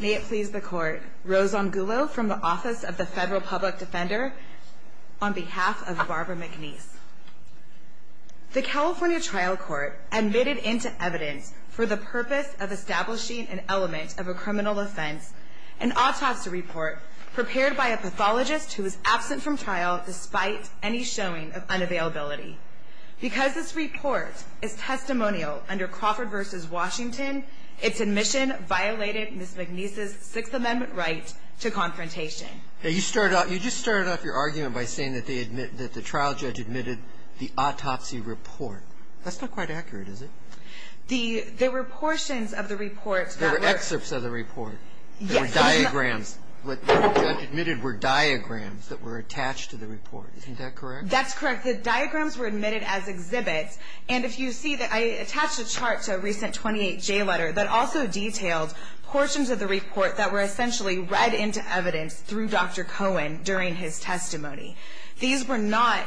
May it please the court, Rose Angulo from the Office of the Federal Public Defender on behalf of Barbara McNeice. The California Trial Court admitted into evidence for the purpose of establishing an element of a criminal offense, an autopsy report prepared by a pathologist who was absent from trial despite any showing of unavailability. Because this report is testimonial under Crawford v. Washington, its admission violated Ms. McNeice's Sixth Amendment right to confrontation. You just started off your argument by saying that the trial judge admitted the autopsy report. That's not quite accurate, is it? There were portions of the report. There were excerpts of the report. Yes. There were diagrams. What the judge admitted were diagrams that were attached to the report. Isn't that correct? That's correct. The diagrams were admitted as exhibits. And if you see, I attached a chart to a recent 28J letter that also detailed portions of the report that were essentially read into evidence through Dr. Cohen during his testimony. These were not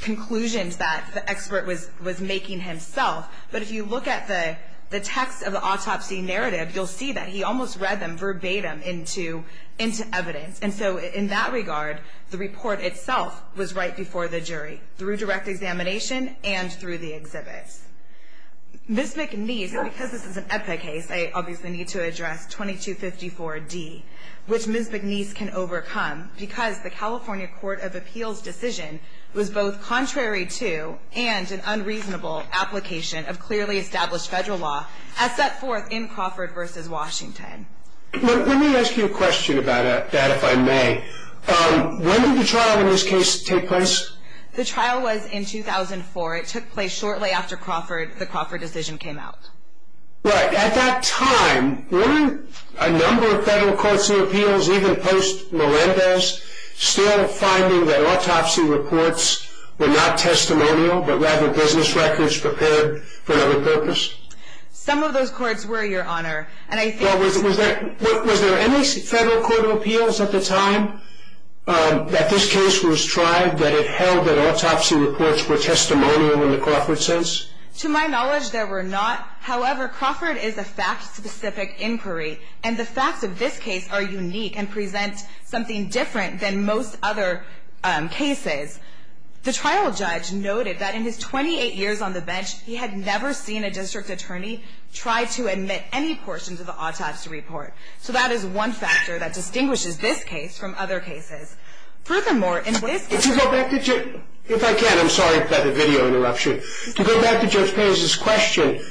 conclusions that the expert was making himself, but if you look at the text of the autopsy narrative, you'll see that he almost read them verbatim into evidence. And so in that regard, the report itself was right before the jury, through direct examination and through the exhibits. Ms. McNeice, because this is an EPA case, I obviously need to address 2254D, which Ms. McNeice can overcome because the California Court of Appeals decision was both contrary to and an unreasonable application of clearly established federal law as set forth in Crawford v. Washington. Let me ask you a question about that, if I may. When did the trial in this case take place? The trial was in 2004. It took place shortly after the Crawford decision came out. Right. At that time, were a number of federal courts of appeals, even post-Mirandas, still finding that autopsy reports were not testimonial but rather business records prepared for another purpose? Some of those courts were, Your Honor. Well, was there any federal court of appeals at the time that this case was tried that it held that autopsy reports were testimonial in the Crawford sense? To my knowledge, there were not. However, Crawford is a fact-specific inquiry, and the facts of this case are unique and present something different than most other cases. The trial judge noted that in his 28 years on the bench, he had never seen a district attorney try to admit any portions of the autopsy report. So that is one factor that distinguishes this case from other cases. Furthermore, in this case- If I can, I'm sorry for the video interruption. To go back to Judge Perez's question,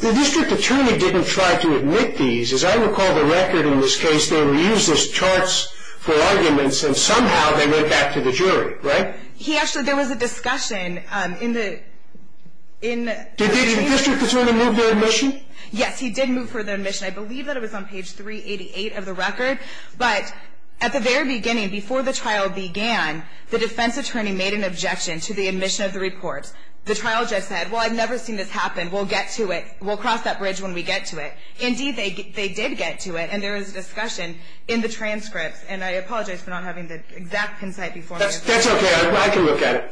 the district attorney didn't try to admit these. As I recall the record in this case, they were used as charts for arguments, and somehow they went back to the jury, right? He actually, there was a discussion in the- Did the district attorney move the admission? Yes, he did move for the admission. I believe that it was on page 388 of the record, but at the very beginning, before the trial began, the defense attorney made an objection to the admission of the reports. The trial judge said, well, I've never seen this happen. We'll get to it. We'll cross that bridge when we get to it. Indeed, they did get to it, and there was a discussion in the transcripts, and I apologize for not having the exact insight before me. That's okay. I can look at it.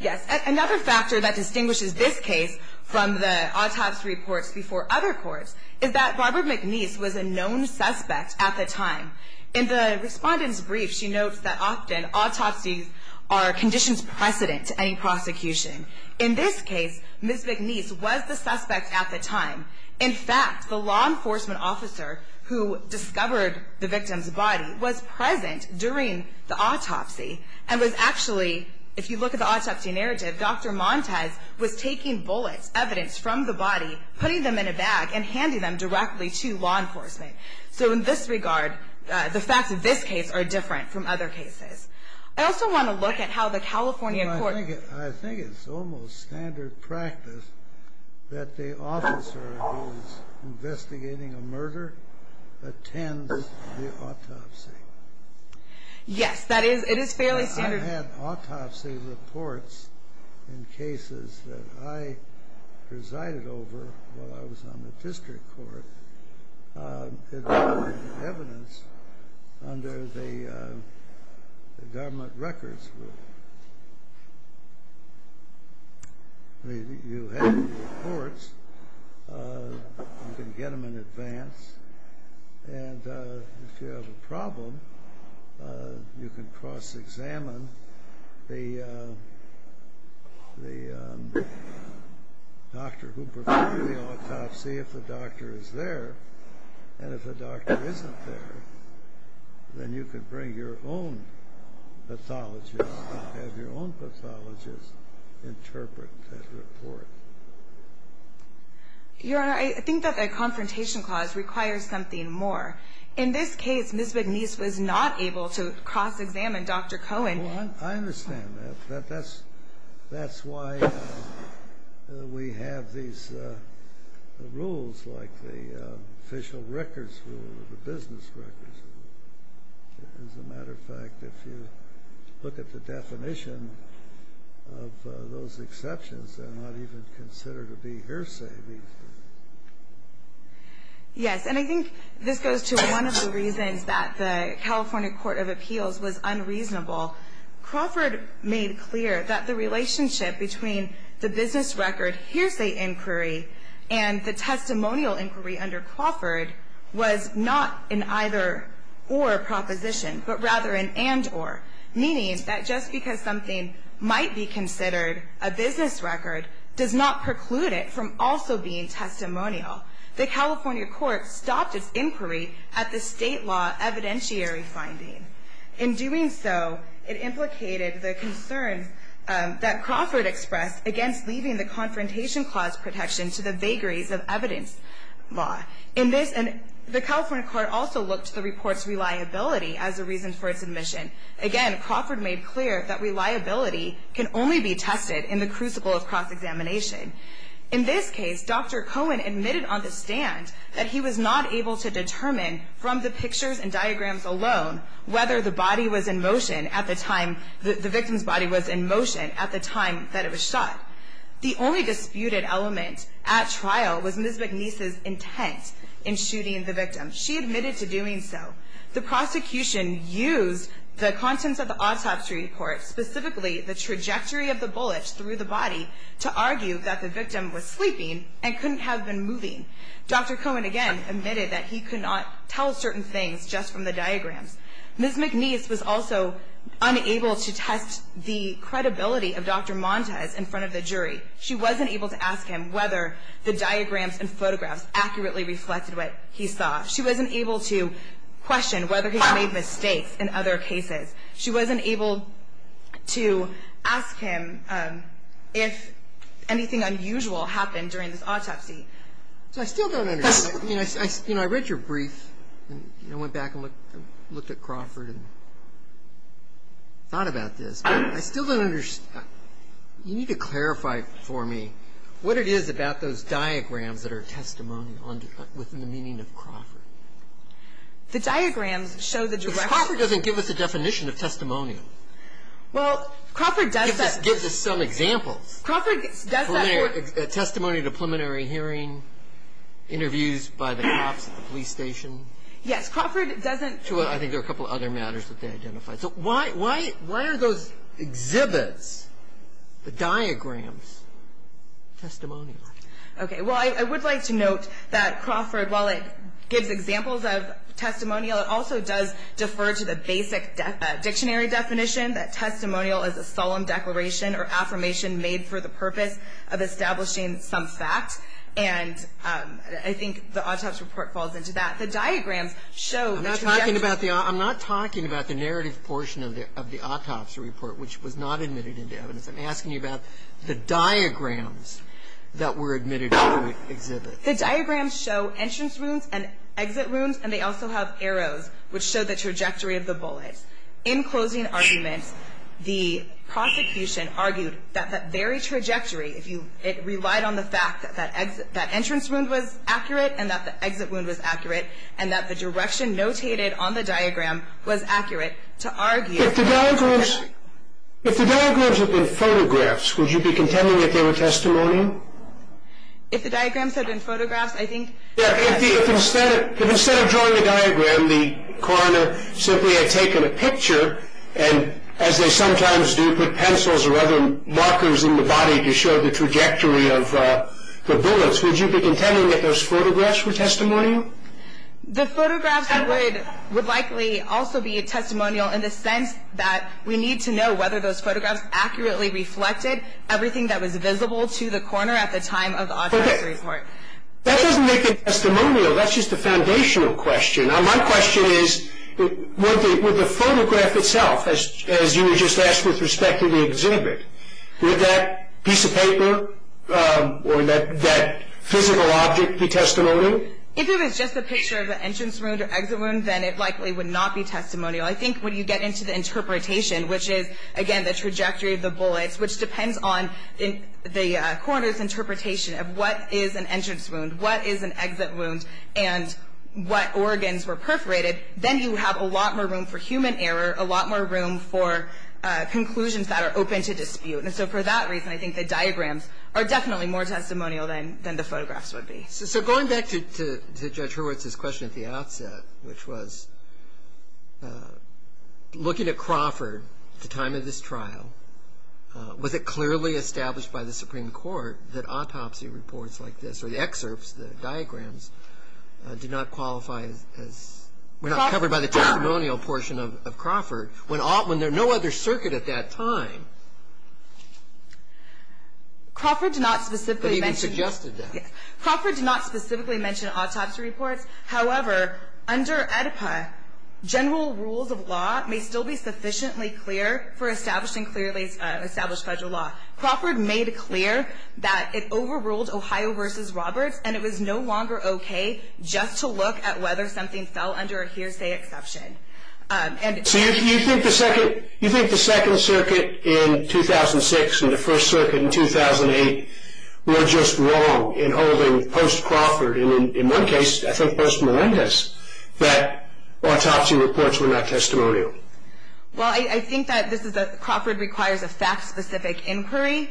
Yes, another factor that distinguishes this case from the autopsy reports before other courts is that Barbara McNeese was a known suspect at the time. In the respondent's brief, she notes that often autopsies are a conditions precedent to any prosecution. In this case, Ms. McNeese was the suspect at the time. In fact, the law enforcement officer who discovered the victim's body was present during the autopsy and was actually, if you look at the autopsy narrative, Dr. Montes was taking bullets, evidence from the body, putting them in a bag, and handing them directly to law enforcement. So in this regard, the facts of this case are different from other cases. I also want to look at how the California court ---- Yes, it is fairly standard. You can cross-examine the doctor who performed the autopsy. If the doctor is there, and if the doctor isn't there, then you can bring your own pathologist and have your own pathologist interpret that report. Your Honor, I think that the confrontation clause requires something more. In this case, Ms. McNeese was not able to cross-examine Dr. Cohen. Well, I understand that. That's why we have these rules like the official records rule or the business records rule. As a matter of fact, if you look at the definition of those exceptions, they're not even considered to be hearsay. Yes, and I think this goes to one of the reasons that the California court of appeals was unreasonable. Crawford made clear that the relationship between the business record hearsay inquiry and the testimonial inquiry under Crawford was not an either-or proposition, but rather an and-or, meaning that just because something might be considered a business record does not preclude it from also being testimonial. The California court stopped its inquiry at the state law evidentiary finding. In doing so, it implicated the concern that Crawford expressed against leaving the confrontation clause protection to the vagaries of evidence law. The California court also looked to the report's reliability as a reason for its admission. Again, Crawford made clear that reliability can only be tested in the crucible of cross-examination. In this case, Dr. Cohen admitted on the stand that he was not able to determine from the pictures and diagrams alone whether the victim's body was in motion at the time that it was shot. The only disputed element at trial was Ms. McNeese's intent in shooting the victim. She admitted to doing so. The prosecution used the contents of the autopsy report, specifically the trajectory of the bullets through the body, to argue that the victim was sleeping and couldn't have been moving. Dr. Cohen again admitted that he could not tell certain things just from the diagrams. Ms. McNeese was also unable to test the credibility of Dr. Montes in front of the jury. She wasn't able to ask him whether the diagrams and photographs accurately reflected what he saw. She wasn't able to question whether he made mistakes in other cases. She wasn't able to ask him if anything unusual happened during this autopsy. So I still don't understand. You know, I read your brief, and I went back and looked at Crawford and thought about this. I still don't understand. You need to clarify for me what it is about those diagrams that are testimony within the meaning of Crawford. The diagrams show that you're right. Because Crawford doesn't give us a definition of testimony. Well, Crawford does that. It just gives us some examples. Crawford does that for. Testimony at a preliminary hearing, interviews by the cops at the police station. Yes. Crawford doesn't. I think there are a couple of other matters that they identified. So why are those exhibits, the diagrams, testimonial? Okay. Well, I would like to note that Crawford, while it gives examples of testimonial, it also does defer to the basic dictionary definition that testimonial is a solemn declaration or affirmation made for the purpose of establishing some fact. And I think the autopsy report falls into that. The diagrams show that. I'm not talking about the narrative portion of the autopsy report, which was not admitted into evidence. I'm asking you about the diagrams that were admitted into the exhibit. The diagrams show entrance rooms and exit rooms, and they also have arrows, which show the trajectory of the bullets. In closing arguments, the prosecution argued that that very trajectory, if you relied on the fact that that entrance room was accurate and that the exit room was accurate and that the direction notated on the diagram was accurate to argue. If the diagrams had been photographs, would you be contending that they were testimonial? If the diagrams had been photographs, I think, yes. If instead of drawing a diagram, the coroner simply had taken a picture and, as they sometimes do, put pencils or other markers in the body to show the trajectory of the bullets, would you be contending that those photographs were testimonial? The photographs would likely also be testimonial in the sense that we need to know whether those photographs accurately reflected everything that was visible to the coroner at the time of the autopsy report. Okay. That doesn't make it testimonial. That's just a foundational question. My question is, would the photograph itself, as you had just asked with respect to the exhibit, would that piece of paper or that physical object be testimonial? If it was just a picture of the entrance wound or exit wound, then it likely would not be testimonial. I think when you get into the interpretation, which is, again, the trajectory of the bullets, which depends on the coroner's interpretation of what is an entrance wound, what is an exit wound, and what organs were perforated, then you have a lot more room for human error, a lot more room for conclusions that are open to dispute. And so for that reason, I think the diagrams are definitely more testimonial than the photographs would be. So going back to Judge Hurwitz's question at the outset, which was, looking at Crawford at the time of this trial, was it clearly established by the Supreme Court that autopsy reports like this or the excerpts, the diagrams, do not qualify as we're not covered by the testimonial portion of Crawford when there are no other circuit at that time? Crawford did not specifically mention that. But he suggested that. Crawford did not specifically mention autopsy reports. However, under AEDPA, general rules of law may still be sufficiently clear for established and clearly established federal law. Crawford made it clear that it overruled Ohio v. Roberts, and it was no longer okay just to look at whether something fell under a hearsay exception. So you think the Second Circuit in 2006 and the First Circuit in 2008 were just wrong in holding post-Crawford, and in one case, I think post-Melendez, that autopsy reports were not testimonial? Well, I think that Crawford requires a fact-specific inquiry.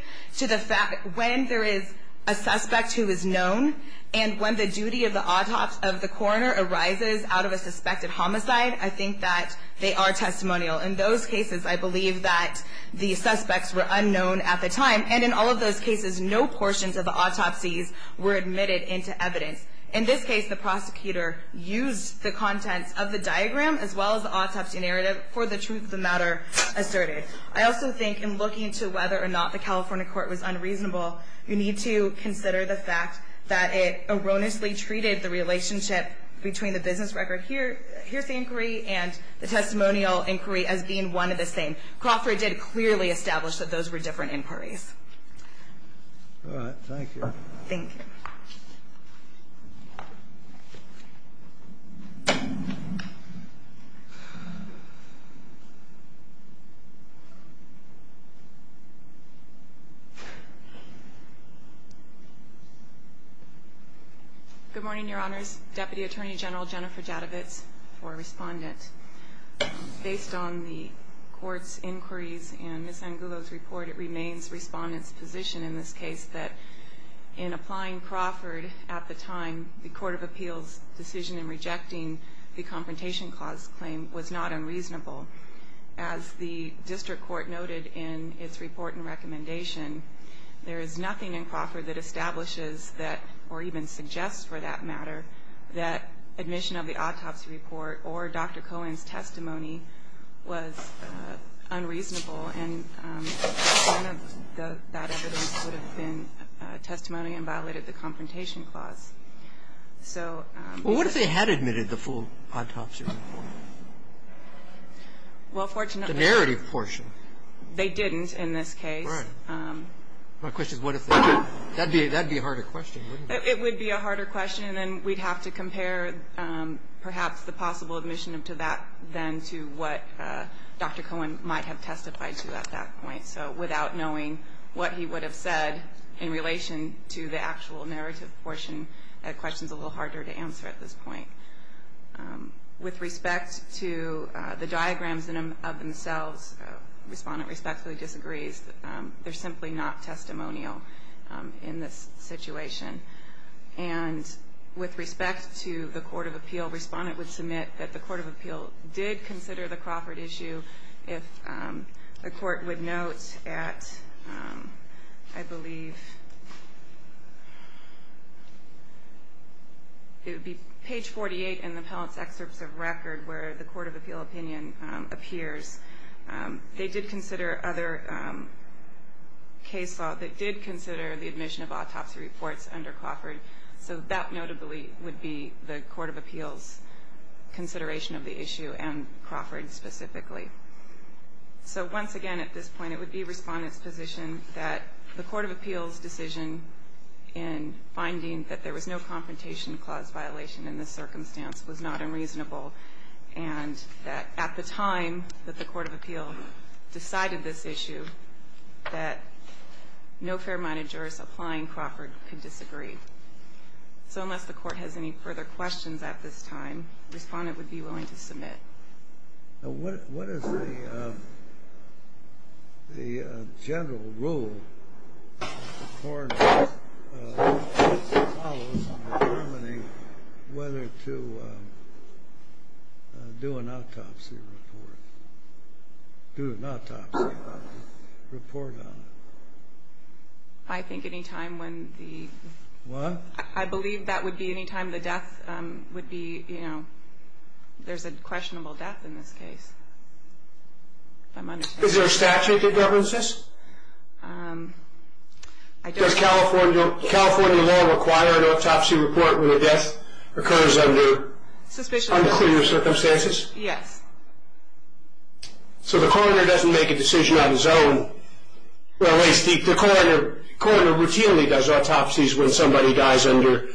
When there is a suspect who is known, and when the duty of the coroner arises out of a suspected homicide, I think that they are testimonial. In those cases, I believe that the suspects were unknown at the time, and in all of those cases, no portions of the autopsies were admitted into evidence. In this case, the prosecutor used the contents of the diagram as well as the autopsy narrative for the truth of the matter asserted. I also think in looking to whether or not the California court was unreasonable, you need to consider the fact that it erroneously treated the relationship between the business record and the hearsay inquiry and the testimonial inquiry as being one of the same. Crawford did clearly establish that those were different inquiries. All right. Thank you. Thank you. Good morning, Your Honors. Deputy Attorney General Jennifer Jadovitz for Respondent. Based on the court's inquiries and Ms. Angulo's report, it remains Respondent's position in this case that in applying Crawford at the time, the Court of Appeals' decision in rejecting the Confrontation Clause claim was not unreasonable. As the district court noted in its report and recommendation, there is nothing in Crawford that establishes that, or even suggests for that matter, that admission of the autopsy report or Dr. Cohen's testimony was unreasonable. And none of that evidence would have been testimony and violated the Confrontation Clause. So the question is what if they had admitted the full autopsy report? Well, fortunately the narrative portion. They didn't in this case. Right. My question is what if they did? That would be a harder question, wouldn't it? It would be a harder question, and then we'd have to compare perhaps the possible admission to that then to what Dr. Cohen might have testified to at that point. So without knowing what he would have said in relation to the actual narrative portion, that question is a little harder to answer at this point. With respect to the diagrams of themselves, Respondent respectfully disagrees. They're simply not testimonial in this situation. And with respect to the Court of Appeal, Respondent would submit that the Court of Appeal did consider the Crawford issue. If the Court would note at, I believe, it would be page 48 in the Appellant's Excerpts of Record where the Court of Appeal opinion appears. They did consider other case law that did consider the admission of autopsy reports under Crawford. So that notably would be the Court of Appeal's consideration of the issue and Crawford specifically. So once again at this point, it would be Respondent's position that the Court of Appeal's decision in finding that there was no confrontation clause violation in this circumstance was not unreasonable and that at the time that the Court of Appeal decided this issue, that no fair-minded jurist applying Crawford could disagree. So unless the Court has any further questions at this time, Respondent would be willing to submit. Now, what is the general rule in the Court of Appeal that follows on determining whether to do an autopsy report, do an autopsy report on it? I think any time when the... What? I believe that would be any time the death would be, you know, there's a questionable death in this case. Is there a statute that governs this? Does California law require an autopsy report when a death occurs under unclear circumstances? Yes. So the coroner doesn't make a decision on his own. The coroner routinely does autopsies when somebody dies under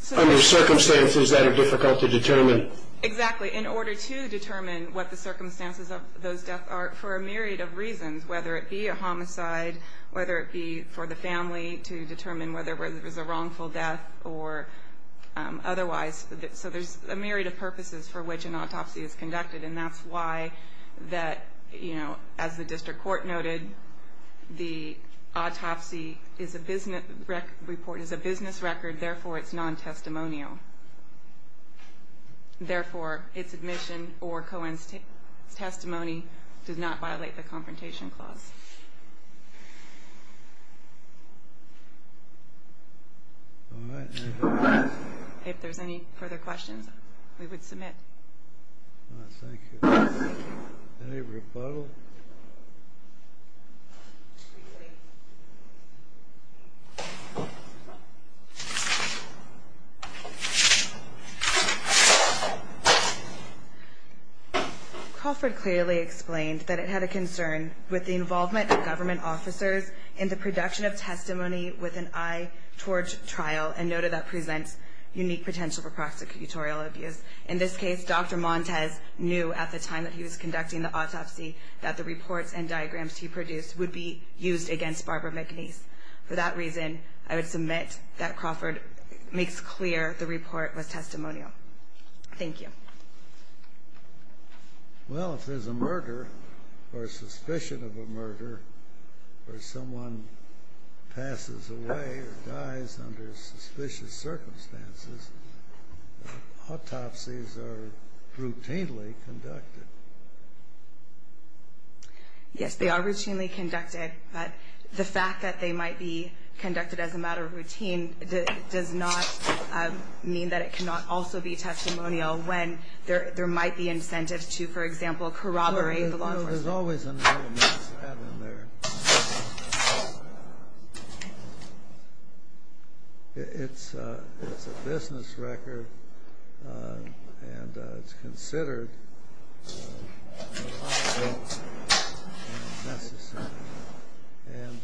circumstances that are difficult to determine. Exactly. In order to determine what the circumstances of those deaths are for a myriad of reasons, whether it be a homicide, whether it be for the family to determine whether it was a wrongful death or otherwise. So there's a myriad of purposes for which an autopsy is conducted, and that's why that, you know, as the district court noted, the autopsy report is a business record, therefore it's non-testimonial. Therefore, its admission or co-testimony does not violate the Confrontation Clause. All right. If there's any further questions, we would submit. Thank you. Any rebuttal? Crawford clearly explained that it had a concern with the involvement of government officers in the production of testimony with an eye towards trial and noted that presents unique potential for prosecutorial abuse. In this case, Dr. Montes knew at the time that he was conducting the autopsy that the reports and diagrams he produced would be used against Barbara McNeese. For that reason, I would submit that Crawford makes clear the report was testimonial. Thank you. Well, if there's a murder or suspicion of a murder or someone passes away or dies under suspicious circumstances, autopsies are routinely conducted. Yes, they are routinely conducted, but the fact that they might be conducted as a matter of routine does not mean that it cannot also be testimonial when there might be incentives to, for example, corroborate the law enforcement. No, there's always an element of that in there. It's a business record, and it's considered necessary. And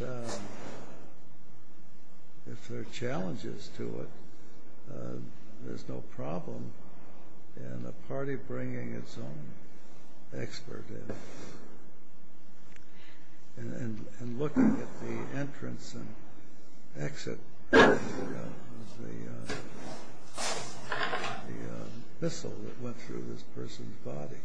if there are challenges to it, there's no problem in a party bringing its own expert in. And looking at the entrance and exit of the missile that went through this person's body.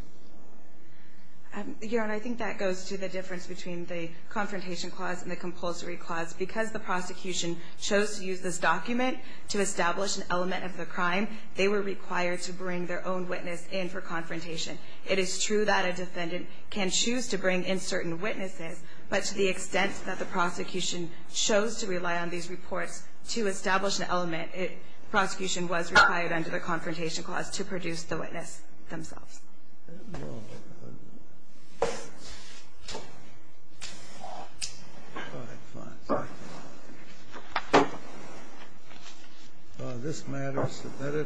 Your Honor, I think that goes to the difference between the Confrontation Clause and the Compulsory Clause. Because the prosecution chose to use this document to establish an element of the crime, they were required to bring their own witness in for confrontation. It is true that a defendant can choose to bring in certain witnesses, but to the extent that the prosecution chose to rely on these reports to establish an element, prosecution was required under the Confrontation Clause to produce the witness themselves. All right. Fine. This matters.